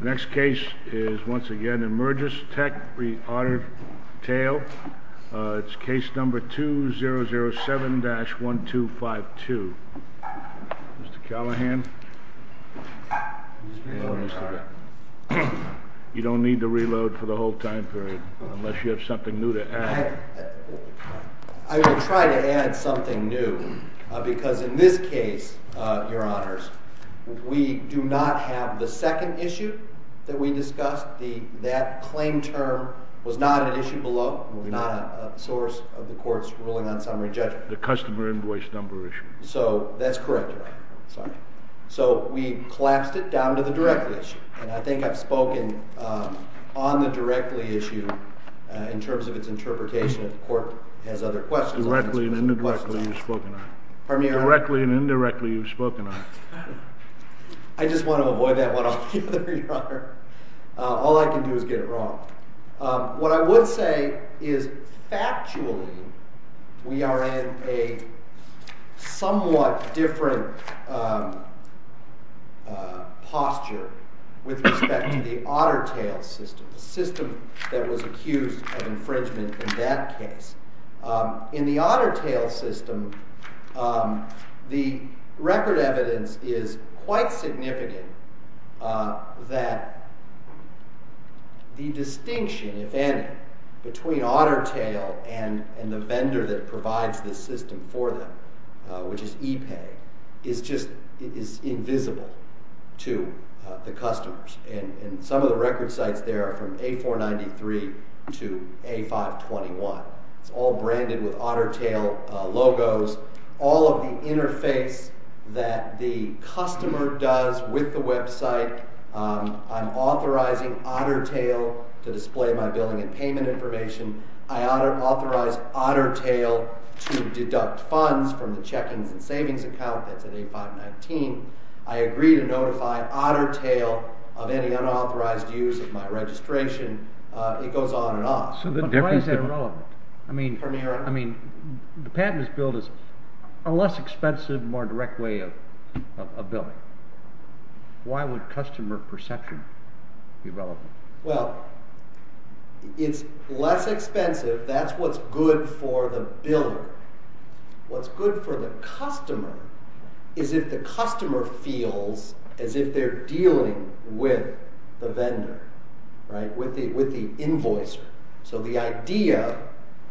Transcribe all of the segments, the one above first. Next case is once again Emergis Tech v. Otter Tail. It's case number 2007-1252. Mr. Callahan. You don't need to reload for the whole time period unless you have something new to add. I will try to add something new because in this case, your honors, we do not have the second issue that we discussed. That claim term was not an issue below. It was not a source of the court's ruling on summary judgment. The customer invoice number issue. That's correct, your honor. We collapsed it down to the directly issue. I think I've spoken on the directly issue in terms of its interpretation. The court has other questions. Directly and indirectly you've spoken on it. Pardon me, your honor? Directly and indirectly you've spoken on it. I just want to avoid that one on the other, your honor. All I can do is get it wrong. What I would say is factually we are in a somewhat different posture with respect to the Otter Tail system, the system that was accused of infringement in that case. In the Otter Tail system, the record evidence is quite significant that the distinction, if any, between Otter Tail and the vendor that provides the system for them, which is ePay, is invisible to the customers. Some of the record sites there are from A493 to A521. It's all branded with Otter Tail logos. All of the interface that the customer does with the website, I'm authorizing Otter Tail to display my billing and payment information. I authorize Otter Tail to deduct funds from the checkings and savings account that's at A519. I agree to notify Otter Tail of any unauthorized use of my registration. It goes on and on. But why is that relevant? Pardon me, your honor? The patent is billed as a less expensive, more direct way of billing. Why would customer perception be relevant? Well, it's less expensive. That's what's good for the biller. What's good for the customer is if the customer feels as if they're dealing with the vendor, with the invoicer. So the idea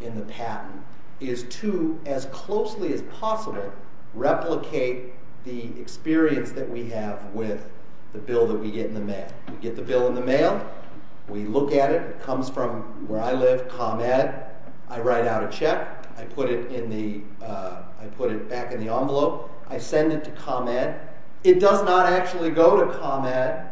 in the patent is to, as closely as possible, replicate the experience that we have with the bill that we get in the mail. We get the bill in the mail. We look at it. It comes from where I live, ComEd. I write out a check. I put it back in the envelope. I send it to ComEd. And it does not actually go to ComEd.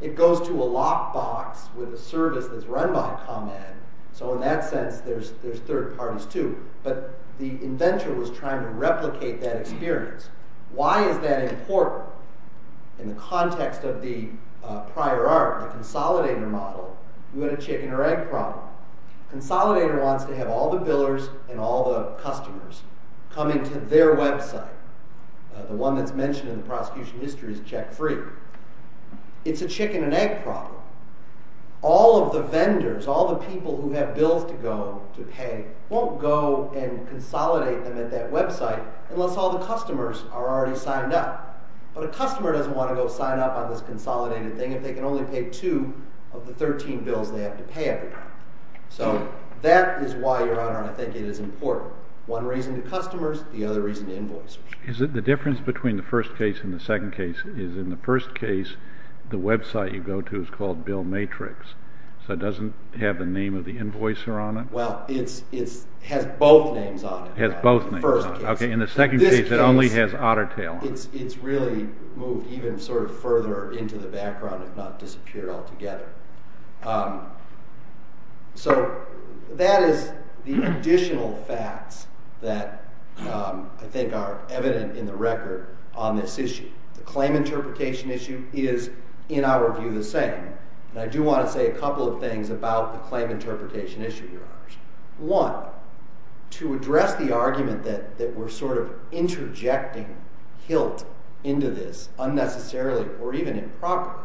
It goes to a lockbox with a service that's run by ComEd. So in that sense, there's third parties too. But the inventor was trying to replicate that experience. Why is that important? In the context of the prior art, the consolidator model, we had a chicken or egg problem. Consolidator wants to have all the billers and all the customers come into their website. The one that's mentioned in the prosecution history is check-free. It's a chicken and egg problem. All of the vendors, all the people who have bills to go to pay, won't go and consolidate them at that website unless all the customers are already signed up. But a customer doesn't want to go sign up on this consolidated thing if they can only pay two of the 13 bills they have to pay every month. So that is why, Your Honor, I think it is important. One reason to customers, the other reason to invoicers. The difference between the first case and the second case is in the first case, the website you go to is called Bill Matrix. So it doesn't have the name of the invoicer on it? Well, it has both names on it. In the first case. In the second case, it only has Otter Tail on it. It's really moved even further into the background, if not disappear altogether. So that is the additional facts that I think are evident in the record on this issue. The claim interpretation issue is, in our view, the same. And I do want to say a couple of things about the claim interpretation issue, Your Honors. One, to address the argument that we're sort of interjecting HILT into this unnecessarily or even improperly.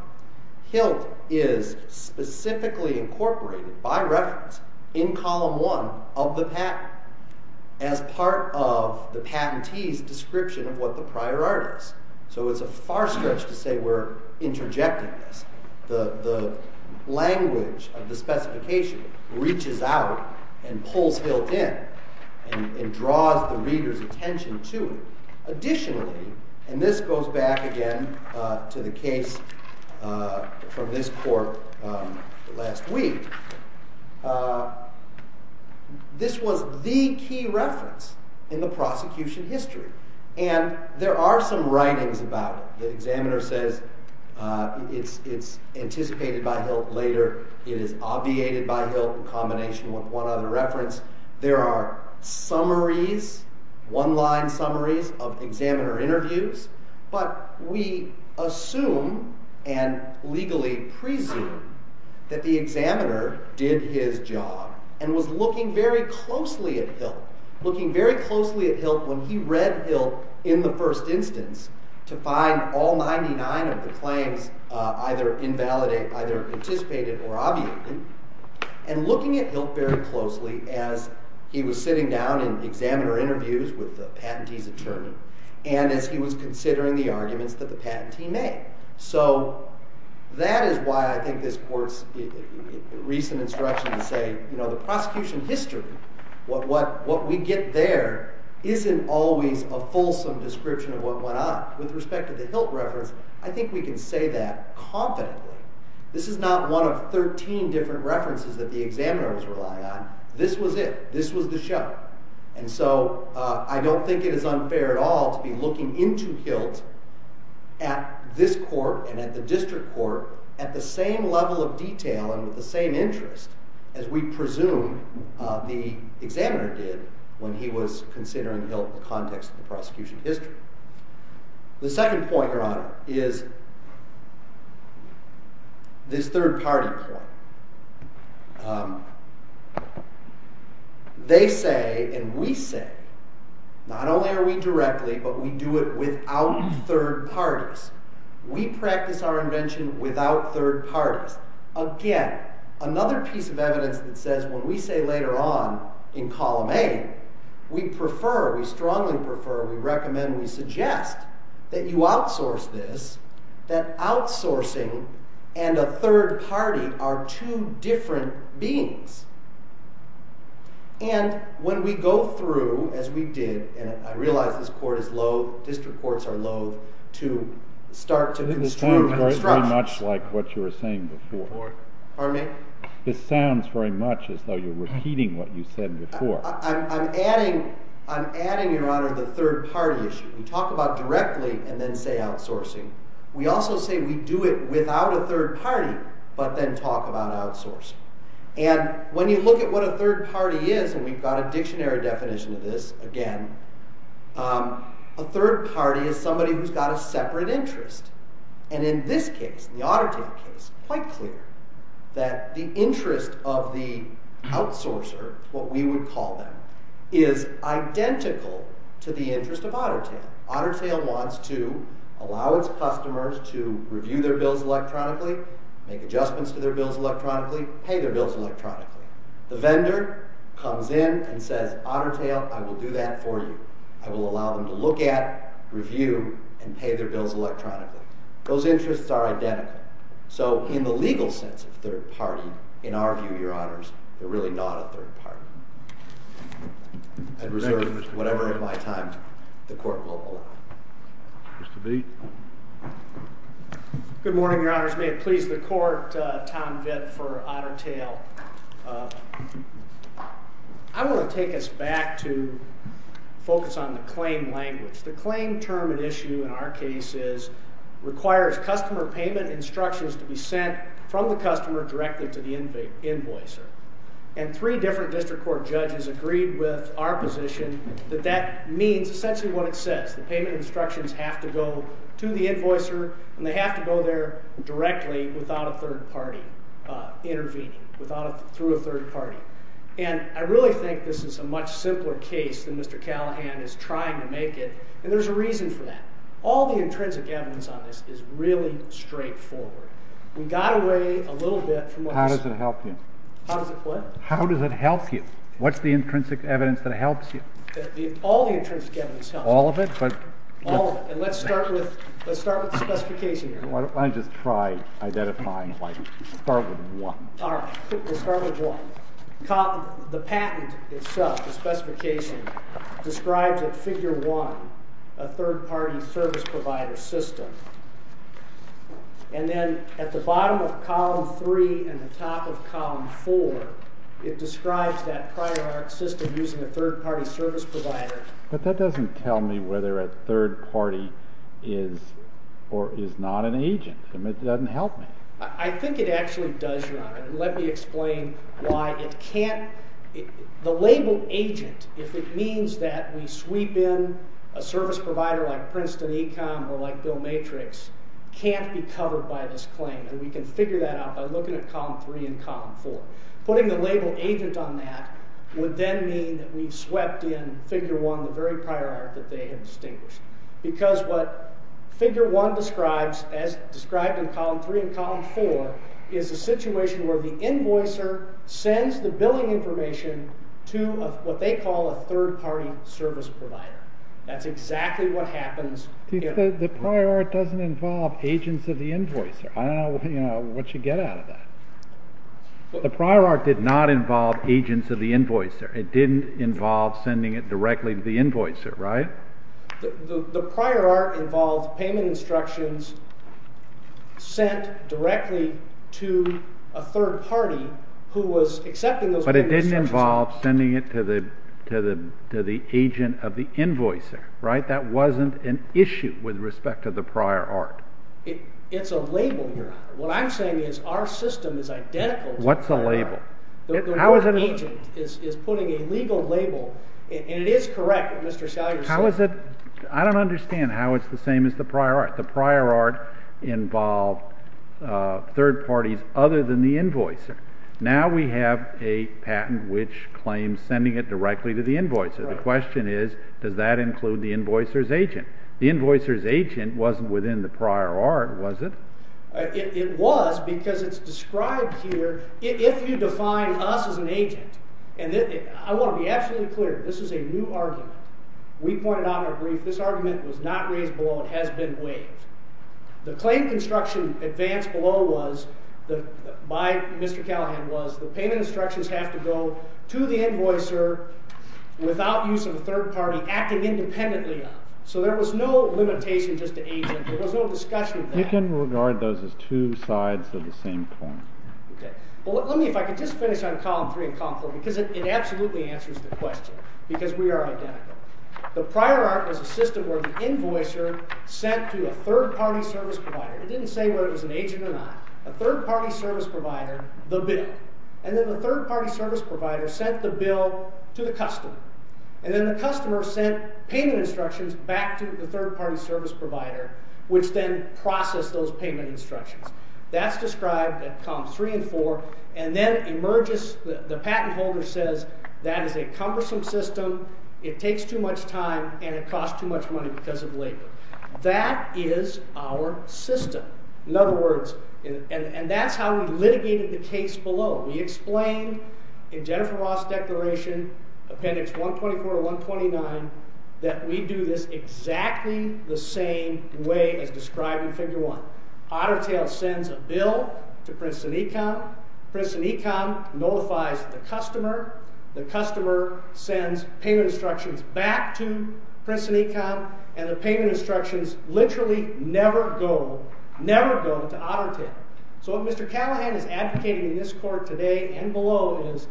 HILT is specifically incorporated, by reference, in column one of the patent as part of the patentee's description of what the prior art is. So it's a far stretch to say we're interjecting this. The language of the specification reaches out and pulls HILT in and draws the reader's attention to it. Additionally, and this goes back again to the case from this court last week, this was the key reference in the prosecution history. And there are some writings about it. The examiner says it's anticipated by HILT later. It is obviated by HILT in combination with one other reference. There are summaries, one line summaries of examiner interviews. But we assume and legally presume that the examiner did his job and was looking very closely at HILT. Looking very closely at HILT when he read HILT in the first instance to find all 99 of the claims either invalidated, either anticipated or obviated. And looking at HILT very closely as he was sitting down in examiner interviews with the patentee's attorney and as he was considering the arguments that the patentee made. So that is why I think this court's recent instruction to say the prosecution history, what we get there, isn't always a fulsome description of what went on. With respect to the HILT reference, I think we can say that confidently. This is not one of 13 different references that the examiner was relying on. This was it. This was the show. And so I don't think it is unfair at all to be looking into HILT at this court and at the district court at the same level of detail and with the same interest as we presume the examiner did when he was considering HILT in the context of the prosecution history. The second point, your honor, is this third party point. They say, and we say, not only are we directly, but we do it without third parties. We practice our invention without third parties. Again, another piece of evidence that says when we say later on in column A, we prefer, we strongly prefer, we recommend, we suggest that you outsource this, that outsourcing and a third party are two different beings. And when we go through, as we did, and I realize this court is loathe, district courts are loathe to start to construe the construction. Much like what you were saying before. Pardon me? This sounds very much as though you're repeating what you said before. I'm adding, your honor, the third party issue. We talk about directly and then say outsourcing. We also say we do it without a third party, but then talk about outsourcing. And when you look at what a third party is, and we've got a dictionary definition of this, again, a third party is somebody who's got a separate interest. And in this case, the Autotail case, it's quite clear that the interest of the outsourcer, what we would call them, is identical to the interest of Autotail. Autotail wants to allow its customers to review their bills electronically, make adjustments to their bills electronically, pay their bills electronically. The vendor comes in and says, Autotail, I will do that for you. I will allow them to look at, review, and pay their bills electronically. Those interests are identical. So in the legal sense of third party, in our view, your honors, they're really not a third party. I'd reserve whatever of my time the court will allow. Mr. Beat? Good morning, your honors. May it please the court, Tom Vitt for Autotail. I want to take us back to focus on the claim language. The claim term and issue in our case is, requires customer payment instructions to be sent from the customer directly to the invoicer. And three different district court judges agreed with our position that that means essentially what it says. The payment instructions have to go to the invoicer, and they have to go there directly without a third party intervening, through a third party. And I really think this is a much simpler case than Mr. Callahan is trying to make it, and there's a reason for that. All the intrinsic evidence on this is really straightforward. How does it help you? How does it what? How does it help you? What's the intrinsic evidence that helps you? All the intrinsic evidence helps me. All of it? All of it. And let's start with the specification here. Why don't I just try identifying, like, start with one. All right, let's start with one. The patent itself, the specification, describes at figure one a third party service provider system. And then at the bottom of column three and the top of column four, it describes that prior art system using a third party service provider. But that doesn't tell me whether a third party is or is not an agent. It doesn't help me. I think it actually does, Your Honor, and let me explain why it can't. The label agent, if it means that we sweep in a service provider like Princeton Econ or like Bill Matrix, can't be covered by this claim. And we can figure that out by looking at column three and column four. Putting the label agent on that would then mean that we've swept in figure one, the very prior art that they have distinguished. Because what figure one describes, as described in column three and column four, is a situation where the invoicer sends the billing information to what they call a third party service provider. That's exactly what happens. The prior art doesn't involve agents of the invoicer. I don't know what you get out of that. The prior art did not involve agents of the invoicer. It didn't involve sending it directly to the invoicer, right? The prior art involved payment instructions sent directly to a third party who was accepting those payment instructions. But it didn't involve sending it to the agent of the invoicer, right? That wasn't an issue with respect to the prior art. It's a label you're on. What I'm saying is our system is identical to the prior art. What's a label? The word agent is putting a legal label, and it is correct what Mr. Salyer said. How is it? I don't understand how it's the same as the prior art. The prior art involved third parties other than the invoicer. Now we have a patent which claims sending it directly to the invoicer. The question is, does that include the invoicer's agent? The invoicer's agent wasn't within the prior art, was it? It was because it's described here, if you define us as an agent, and I want to be absolutely clear, this is a new argument. We pointed out in our brief this argument was not raised below and has been waived. The claim construction advance below was, by Mr. Callahan, was the payment instructions have to go to the invoicer without use of a third party acting independently of. So there was no limitation just to agent, there was no discussion of that. You can regard those as two sides of the same coin. Let me, if I could just finish on column three and column four, because it absolutely answers the question, because we are identical. The prior art was a system where the invoicer sent to a third party service provider. It didn't say whether it was an agent or not. A third party service provider, the bill. And then the third party service provider sent the bill to the customer. And then the customer sent payment instructions back to the third party service provider, which then processed those payment instructions. That's described at columns three and four. And then emerges, the patent holder says, that is a cumbersome system, it takes too much time, and it costs too much money because of labor. That is our system. In other words, and that's how we litigated the case below. We explained in Jennifer Ross' declaration, appendix 124 to 129, that we do this exactly the same way as described in figure one. Ottertail sends a bill to Princeton Econ. Princeton Econ notifies the customer. The customer sends payment instructions back to Princeton Econ. And the payment instructions literally never go, never go to Ottertail. So what Mr. Callahan is advocating in this court today and below is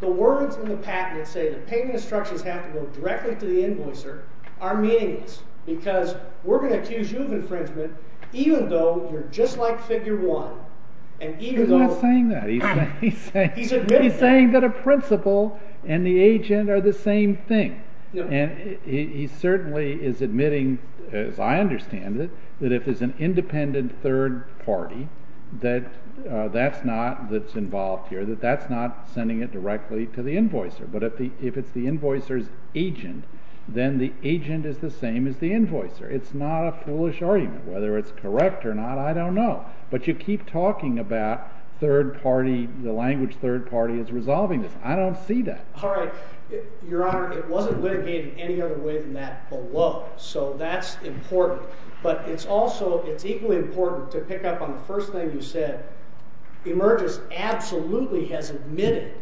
the words in the patent that say the payment instructions have to go directly to the invoicer are meaningless. Because we're going to accuse you of infringement even though you're just like figure one. And even though- He's not saying that. He's admitting that. He's saying that a principal and the agent are the same thing. And he certainly is admitting, as I understand it, that if there's an independent third party that's involved here, that that's not sending it directly to the invoicer. But if it's the invoicer's agent, then the agent is the same as the invoicer. It's not a foolish argument. Whether it's correct or not, I don't know. But you keep talking about the language third party is resolving this. I don't see that. All right. Your Honor, it wasn't litigated any other way than that below. So that's important. But it's also, it's equally important to pick up on the first thing you said. Emergis absolutely has admitted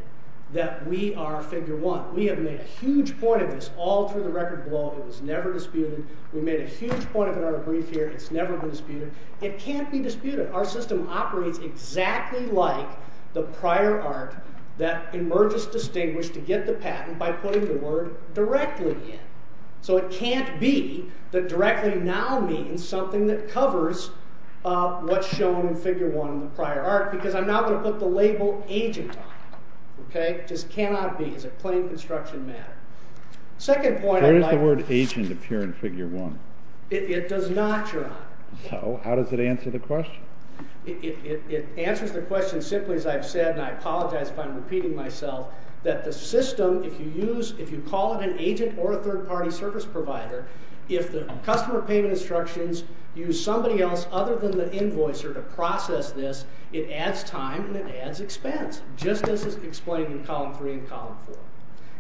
that we are figure one. We have made a huge point of this all through the record below. It was never disputed. We made a huge point of it on our brief here. It's never been disputed. It can't be disputed. Our system operates exactly like the prior art that Emergis distinguished to get the patent by putting the word directly in. So it can't be that directly now means something that covers what's shown in figure one in the prior art because I'm not going to put the label agent on it. Okay? It just cannot be. It's a plain construction matter. Second point I'd like to make. Where does the word agent appear in figure one? It does not, Your Honor. So how does it answer the question? It answers the question simply as I've said, and I apologize if I'm repeating myself, that the system, if you use, if you call it an agent or a third-party service provider, if the customer payment instructions use somebody else other than the invoicer to process this, it adds time and it adds expense, just as is explained in column three and column four,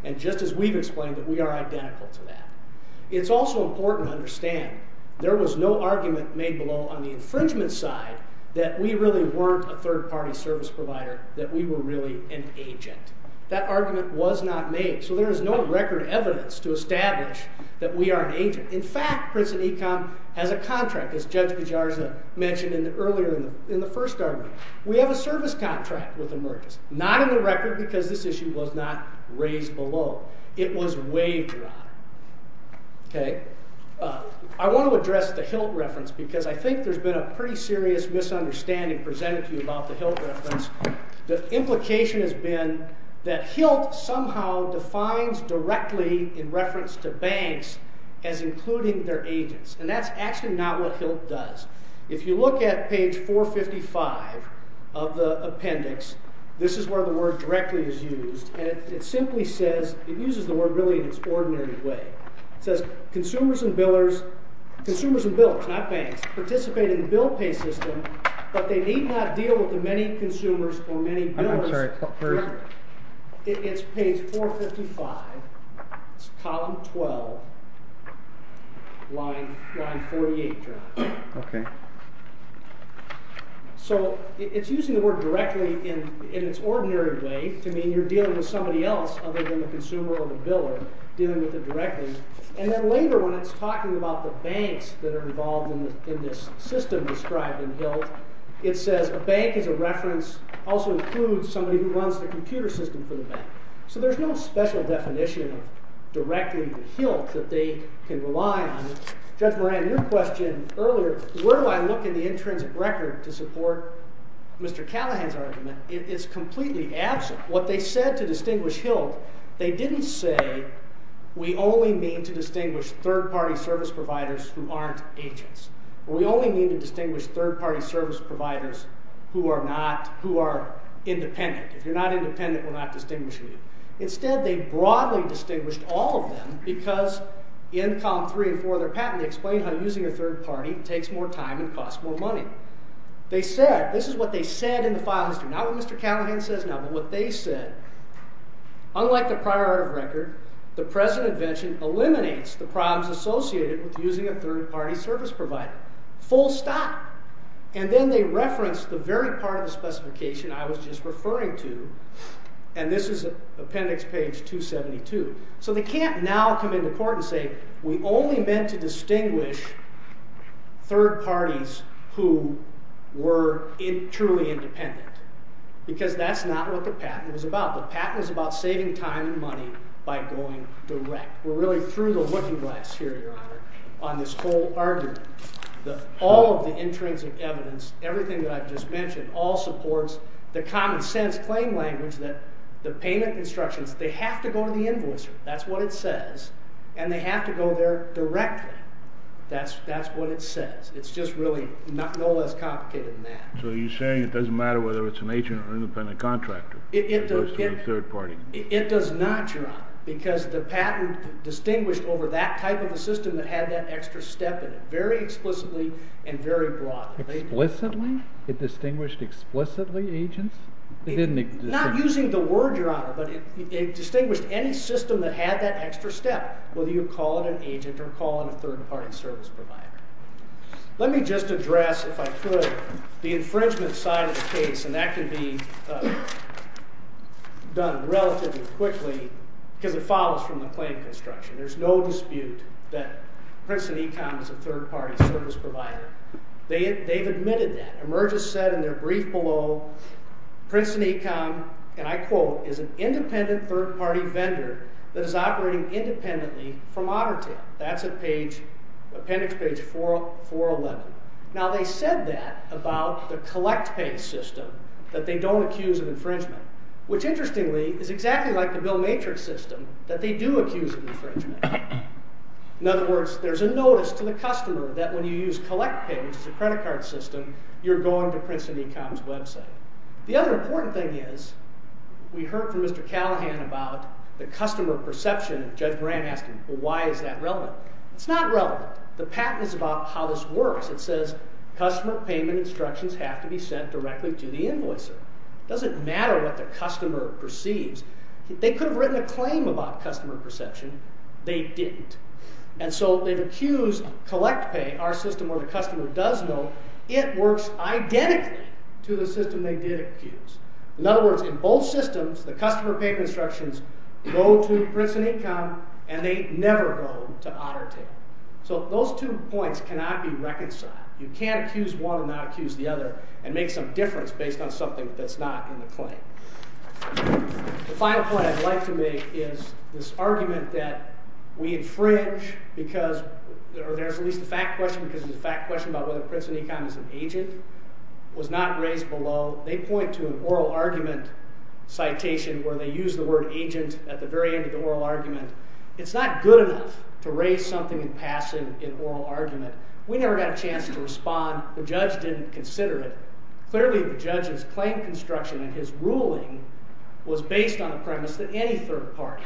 and just as we've explained that we are identical to that. It's also important to understand. There was no argument made below on the infringement side that we really weren't a third-party service provider, that we were really an agent. That argument was not made. So there is no record evidence to establish that we are an agent. In fact, Princeton Econ has a contract, as Judge Pijarza mentioned earlier in the first argument. We have a service contract with Emergis, not in the record because this issue was not raised below. It was waived, Your Honor. Okay? I want to address the HILT reference because I think there's been a pretty serious misunderstanding presented to you about the HILT reference. The implication has been that HILT somehow defines directly in reference to banks as including their agents, and that's actually not what HILT does. If you look at page 455 of the appendix, this is where the word directly is used, and it simply says, it uses the word really in its ordinary way. It says, consumers and billers, consumers and billers, not banks, participate in the bill pay system, but they need not deal with the many consumers or many billers. I'm sorry, where is it? It's page 455, it's column 12, line 48, Your Honor. Okay. So it's using the word directly in its ordinary way to mean you're dealing with somebody else other than the consumer or the biller, dealing with it directly. And then later when it's talking about the banks that are involved in this system described in HILT, it says a bank is a reference, also includes somebody who runs the computer system for the bank. So there's no special definition of directly the HILT that they can rely on. Judge Moran, your question earlier, where do I look in the intrinsic record to support Mr. Callahan's argument, is completely absent. What they said to distinguish HILT, they didn't say, we only mean to distinguish third-party service providers who aren't agents. We only mean to distinguish third-party service providers who are independent. If you're not independent, we're not distinguishing you. Instead they broadly distinguished all of them because in column 3 and 4 of their patent they explain how using a third-party takes more time and costs more money. They said, this is what they said in the file history, not what Mr. Callahan says now, but what they said, unlike the prior record, the present invention eliminates the problems associated with using a third-party service provider. Full stop. And then they reference the very part of the specification I was just referring to, and this is appendix page 272. So they can't now come into court and say, we only meant to distinguish third parties who were truly independent. Because that's not what the patent was about. The patent was about saving time and money by going direct. We're really through the looking glass here, Your Honor, on this whole argument. All of the intrinsic evidence, everything that I've just mentioned, all supports the common sense claim language that the payment instructions, they have to go to the invoicer. That's what it says. And they have to go there directly. That's what it says. It's just really no less complicated than that. So you're saying it doesn't matter whether it's an agent or an independent contractor. It does not, Your Honor. Because the patent distinguished over that type of a system that had that extra step in it very explicitly and very broadly. Explicitly? It distinguished explicitly agents? Not using the word, Your Honor, but it distinguished any system that had that extra step, whether you call it an agent or call it a third-party service provider. Let me just address, if I could, the infringement side of the case, and that can be done relatively quickly because it follows from the claim construction. There's no dispute that Princeton Econ is a third-party service provider. They've admitted that. Emerges said in their brief below, Princeton Econ, and I quote, is an independent third-party vendor that is operating independently from Otter Tail. That's appendix page 411. Now, they said that about the collect pay system, that they don't accuse of infringement, which, interestingly, is exactly like the Bill Matrix system, that they do accuse of infringement. In other words, there's a notice to the customer that when you use collect pay, which is a credit card system, you're going to Princeton Econ's website. The other important thing is, we heard from Mr. Callahan about the customer perception, and Judge Graham asked him, well, why is that relevant? It's not relevant. The patent is about how this works. It says, customer payment instructions have to be sent directly to the invoicer. It doesn't matter what the customer perceives. They could have written a claim about customer perception. They didn't. And so they've accused collect pay, our system where the customer does know it works identically to the system they did accuse. In other words, in both systems, the customer payment instructions go to Princeton Econ, and they never go to Otter Tail. So those two points cannot be reconciled. You can't accuse one and not accuse the other and make some difference based on something that's not in the claim. The final point I'd like to make is this argument that we infringe because there's at least a fact question because there's a fact question about whether Princeton Econ is an agent was not raised below. They point to an oral argument citation where they use the word agent at the very end of the oral argument. It's not good enough to raise something in passing in oral argument. We never got a chance to respond. The judge didn't consider it. Clearly, the judge's claim construction and his ruling was based on the premise that any third party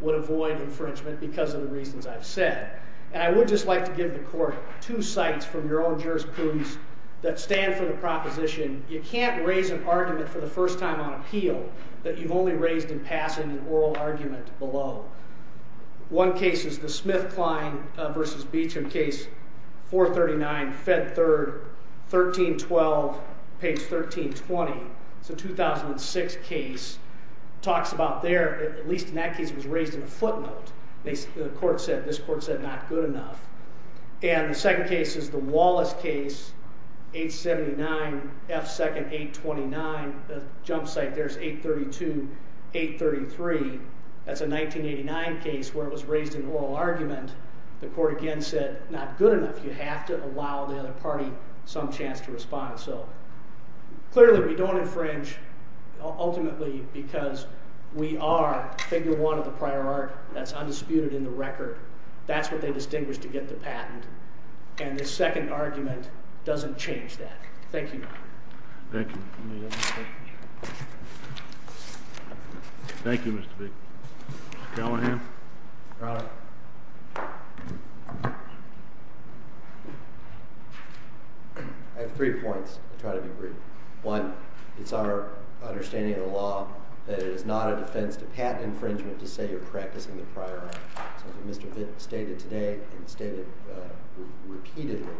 would avoid infringement because of the reasons I've said. And I would just like to give the court two sites from your own jurisprudence that stand for the proposition. You can't raise an argument for the first time on appeal that you've only raised in passing an oral argument below. One case is the Smith-Klein v. Beecham case, 439, Fed Third, 1312, page 1320. It's a 2006 case. It talks about there, at least in that case, it was raised in a footnote. The court said, this court said, not good enough. And the second case is the Wallace case, 879, F. Second, 829. The jump site there is 832, 833. That's a 1989 case where it was raised in oral argument. The court again said, not good enough. You have to allow the other party some chance to respond. So clearly, we don't infringe ultimately because we are figure one of the prior art. That's undisputed in the record. That's what they distinguished to get the patent. And this second argument doesn't change that. Thank you. Thank you. Thank you, Mr. Beecham. Mr. Callahan. Your Honor. I have three points. I'll try to be brief. One, it's our understanding of the law that it is not a defense to patent infringement to say you're practicing the prior art. So as Mr. Vint stated today and stated repeatedly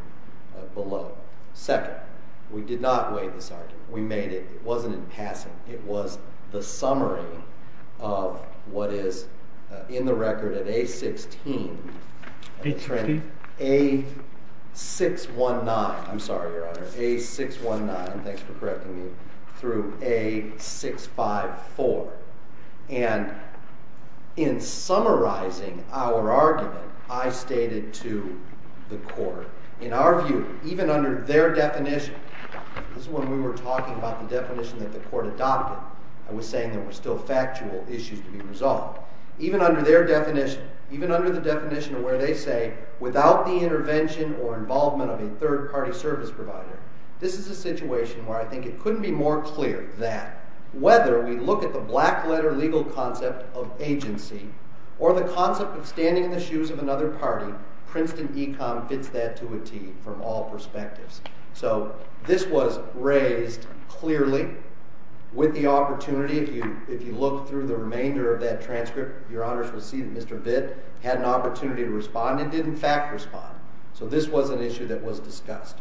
below. Second, we did not weigh this argument. We made it. It wasn't in passing. It was the summary of what is in the record at A-16. A-16? A-619. I'm sorry, Your Honor. A-619. Thanks for correcting me. Through A-654. And in summarizing our argument, I stated to the court, in our view, even under their definition, this is when we were talking about the definition that the court adopted. I was saying there were still factual issues to be resolved. Even under their definition, even under the definition of where they say, without the intervention or involvement of a third-party service provider, this is a situation where I think it couldn't be more clear that whether we look at the black-letter legal concept of agency or the concept of standing in the shoes of another party, Princeton e-comm fits that to a T from all perspectives. So this was raised clearly with the opportunity, if you look through the remainder of that transcript, Your Honors will see that Mr. Vitt had an opportunity to respond and did, in fact, respond. So this was an issue that was discussed.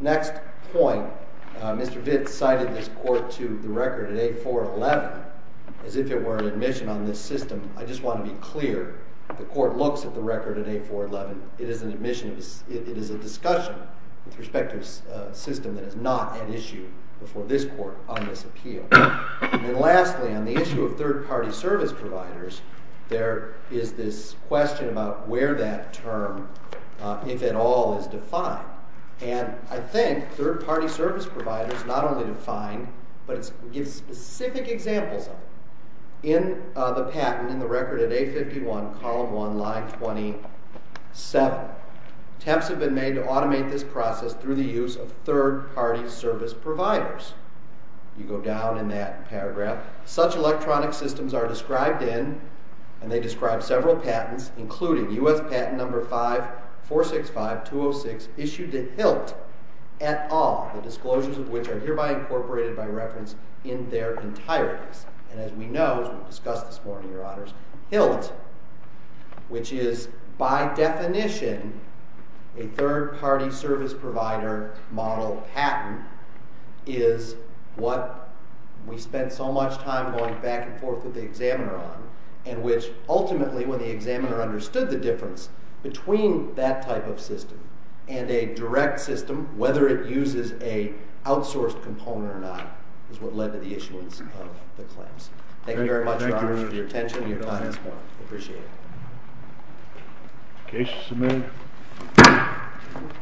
Next point, Mr. Vitt cited this court to the record at A-411 as if it were an admission on this system. I just want to be clear. The court looks at the record at A-411. It is a discussion with respect to a system that is not at issue before this court on this appeal. And lastly, on the issue of third-party service providers, there is this question about where that term, if at all, is defined. And I think third-party service providers not only define, but it gives specific examples of it. In the patent, in the record at A-51, column 1, line 27, attempts have been made to automate this process through the use of third-party service providers. You go down in that paragraph. Such electronic systems are described in, and they describe several patents, including U.S. patent number 5465-206 issued to HILT et al., the disclosures of which are hereby incorporated by reference in their entireties. And as we know, as we discussed this morning, Your Honors, HILT, which is by definition a third-party service provider model patent, is what we spent so much time going back and forth with the examiner on, and which ultimately, when the examiner understood the difference between that type of system and a direct system, whether it uses an outsourced component or not, is what led to the issuance of the claims. Thank you very much, Your Honors, for your attention and your time this morning. I appreciate it.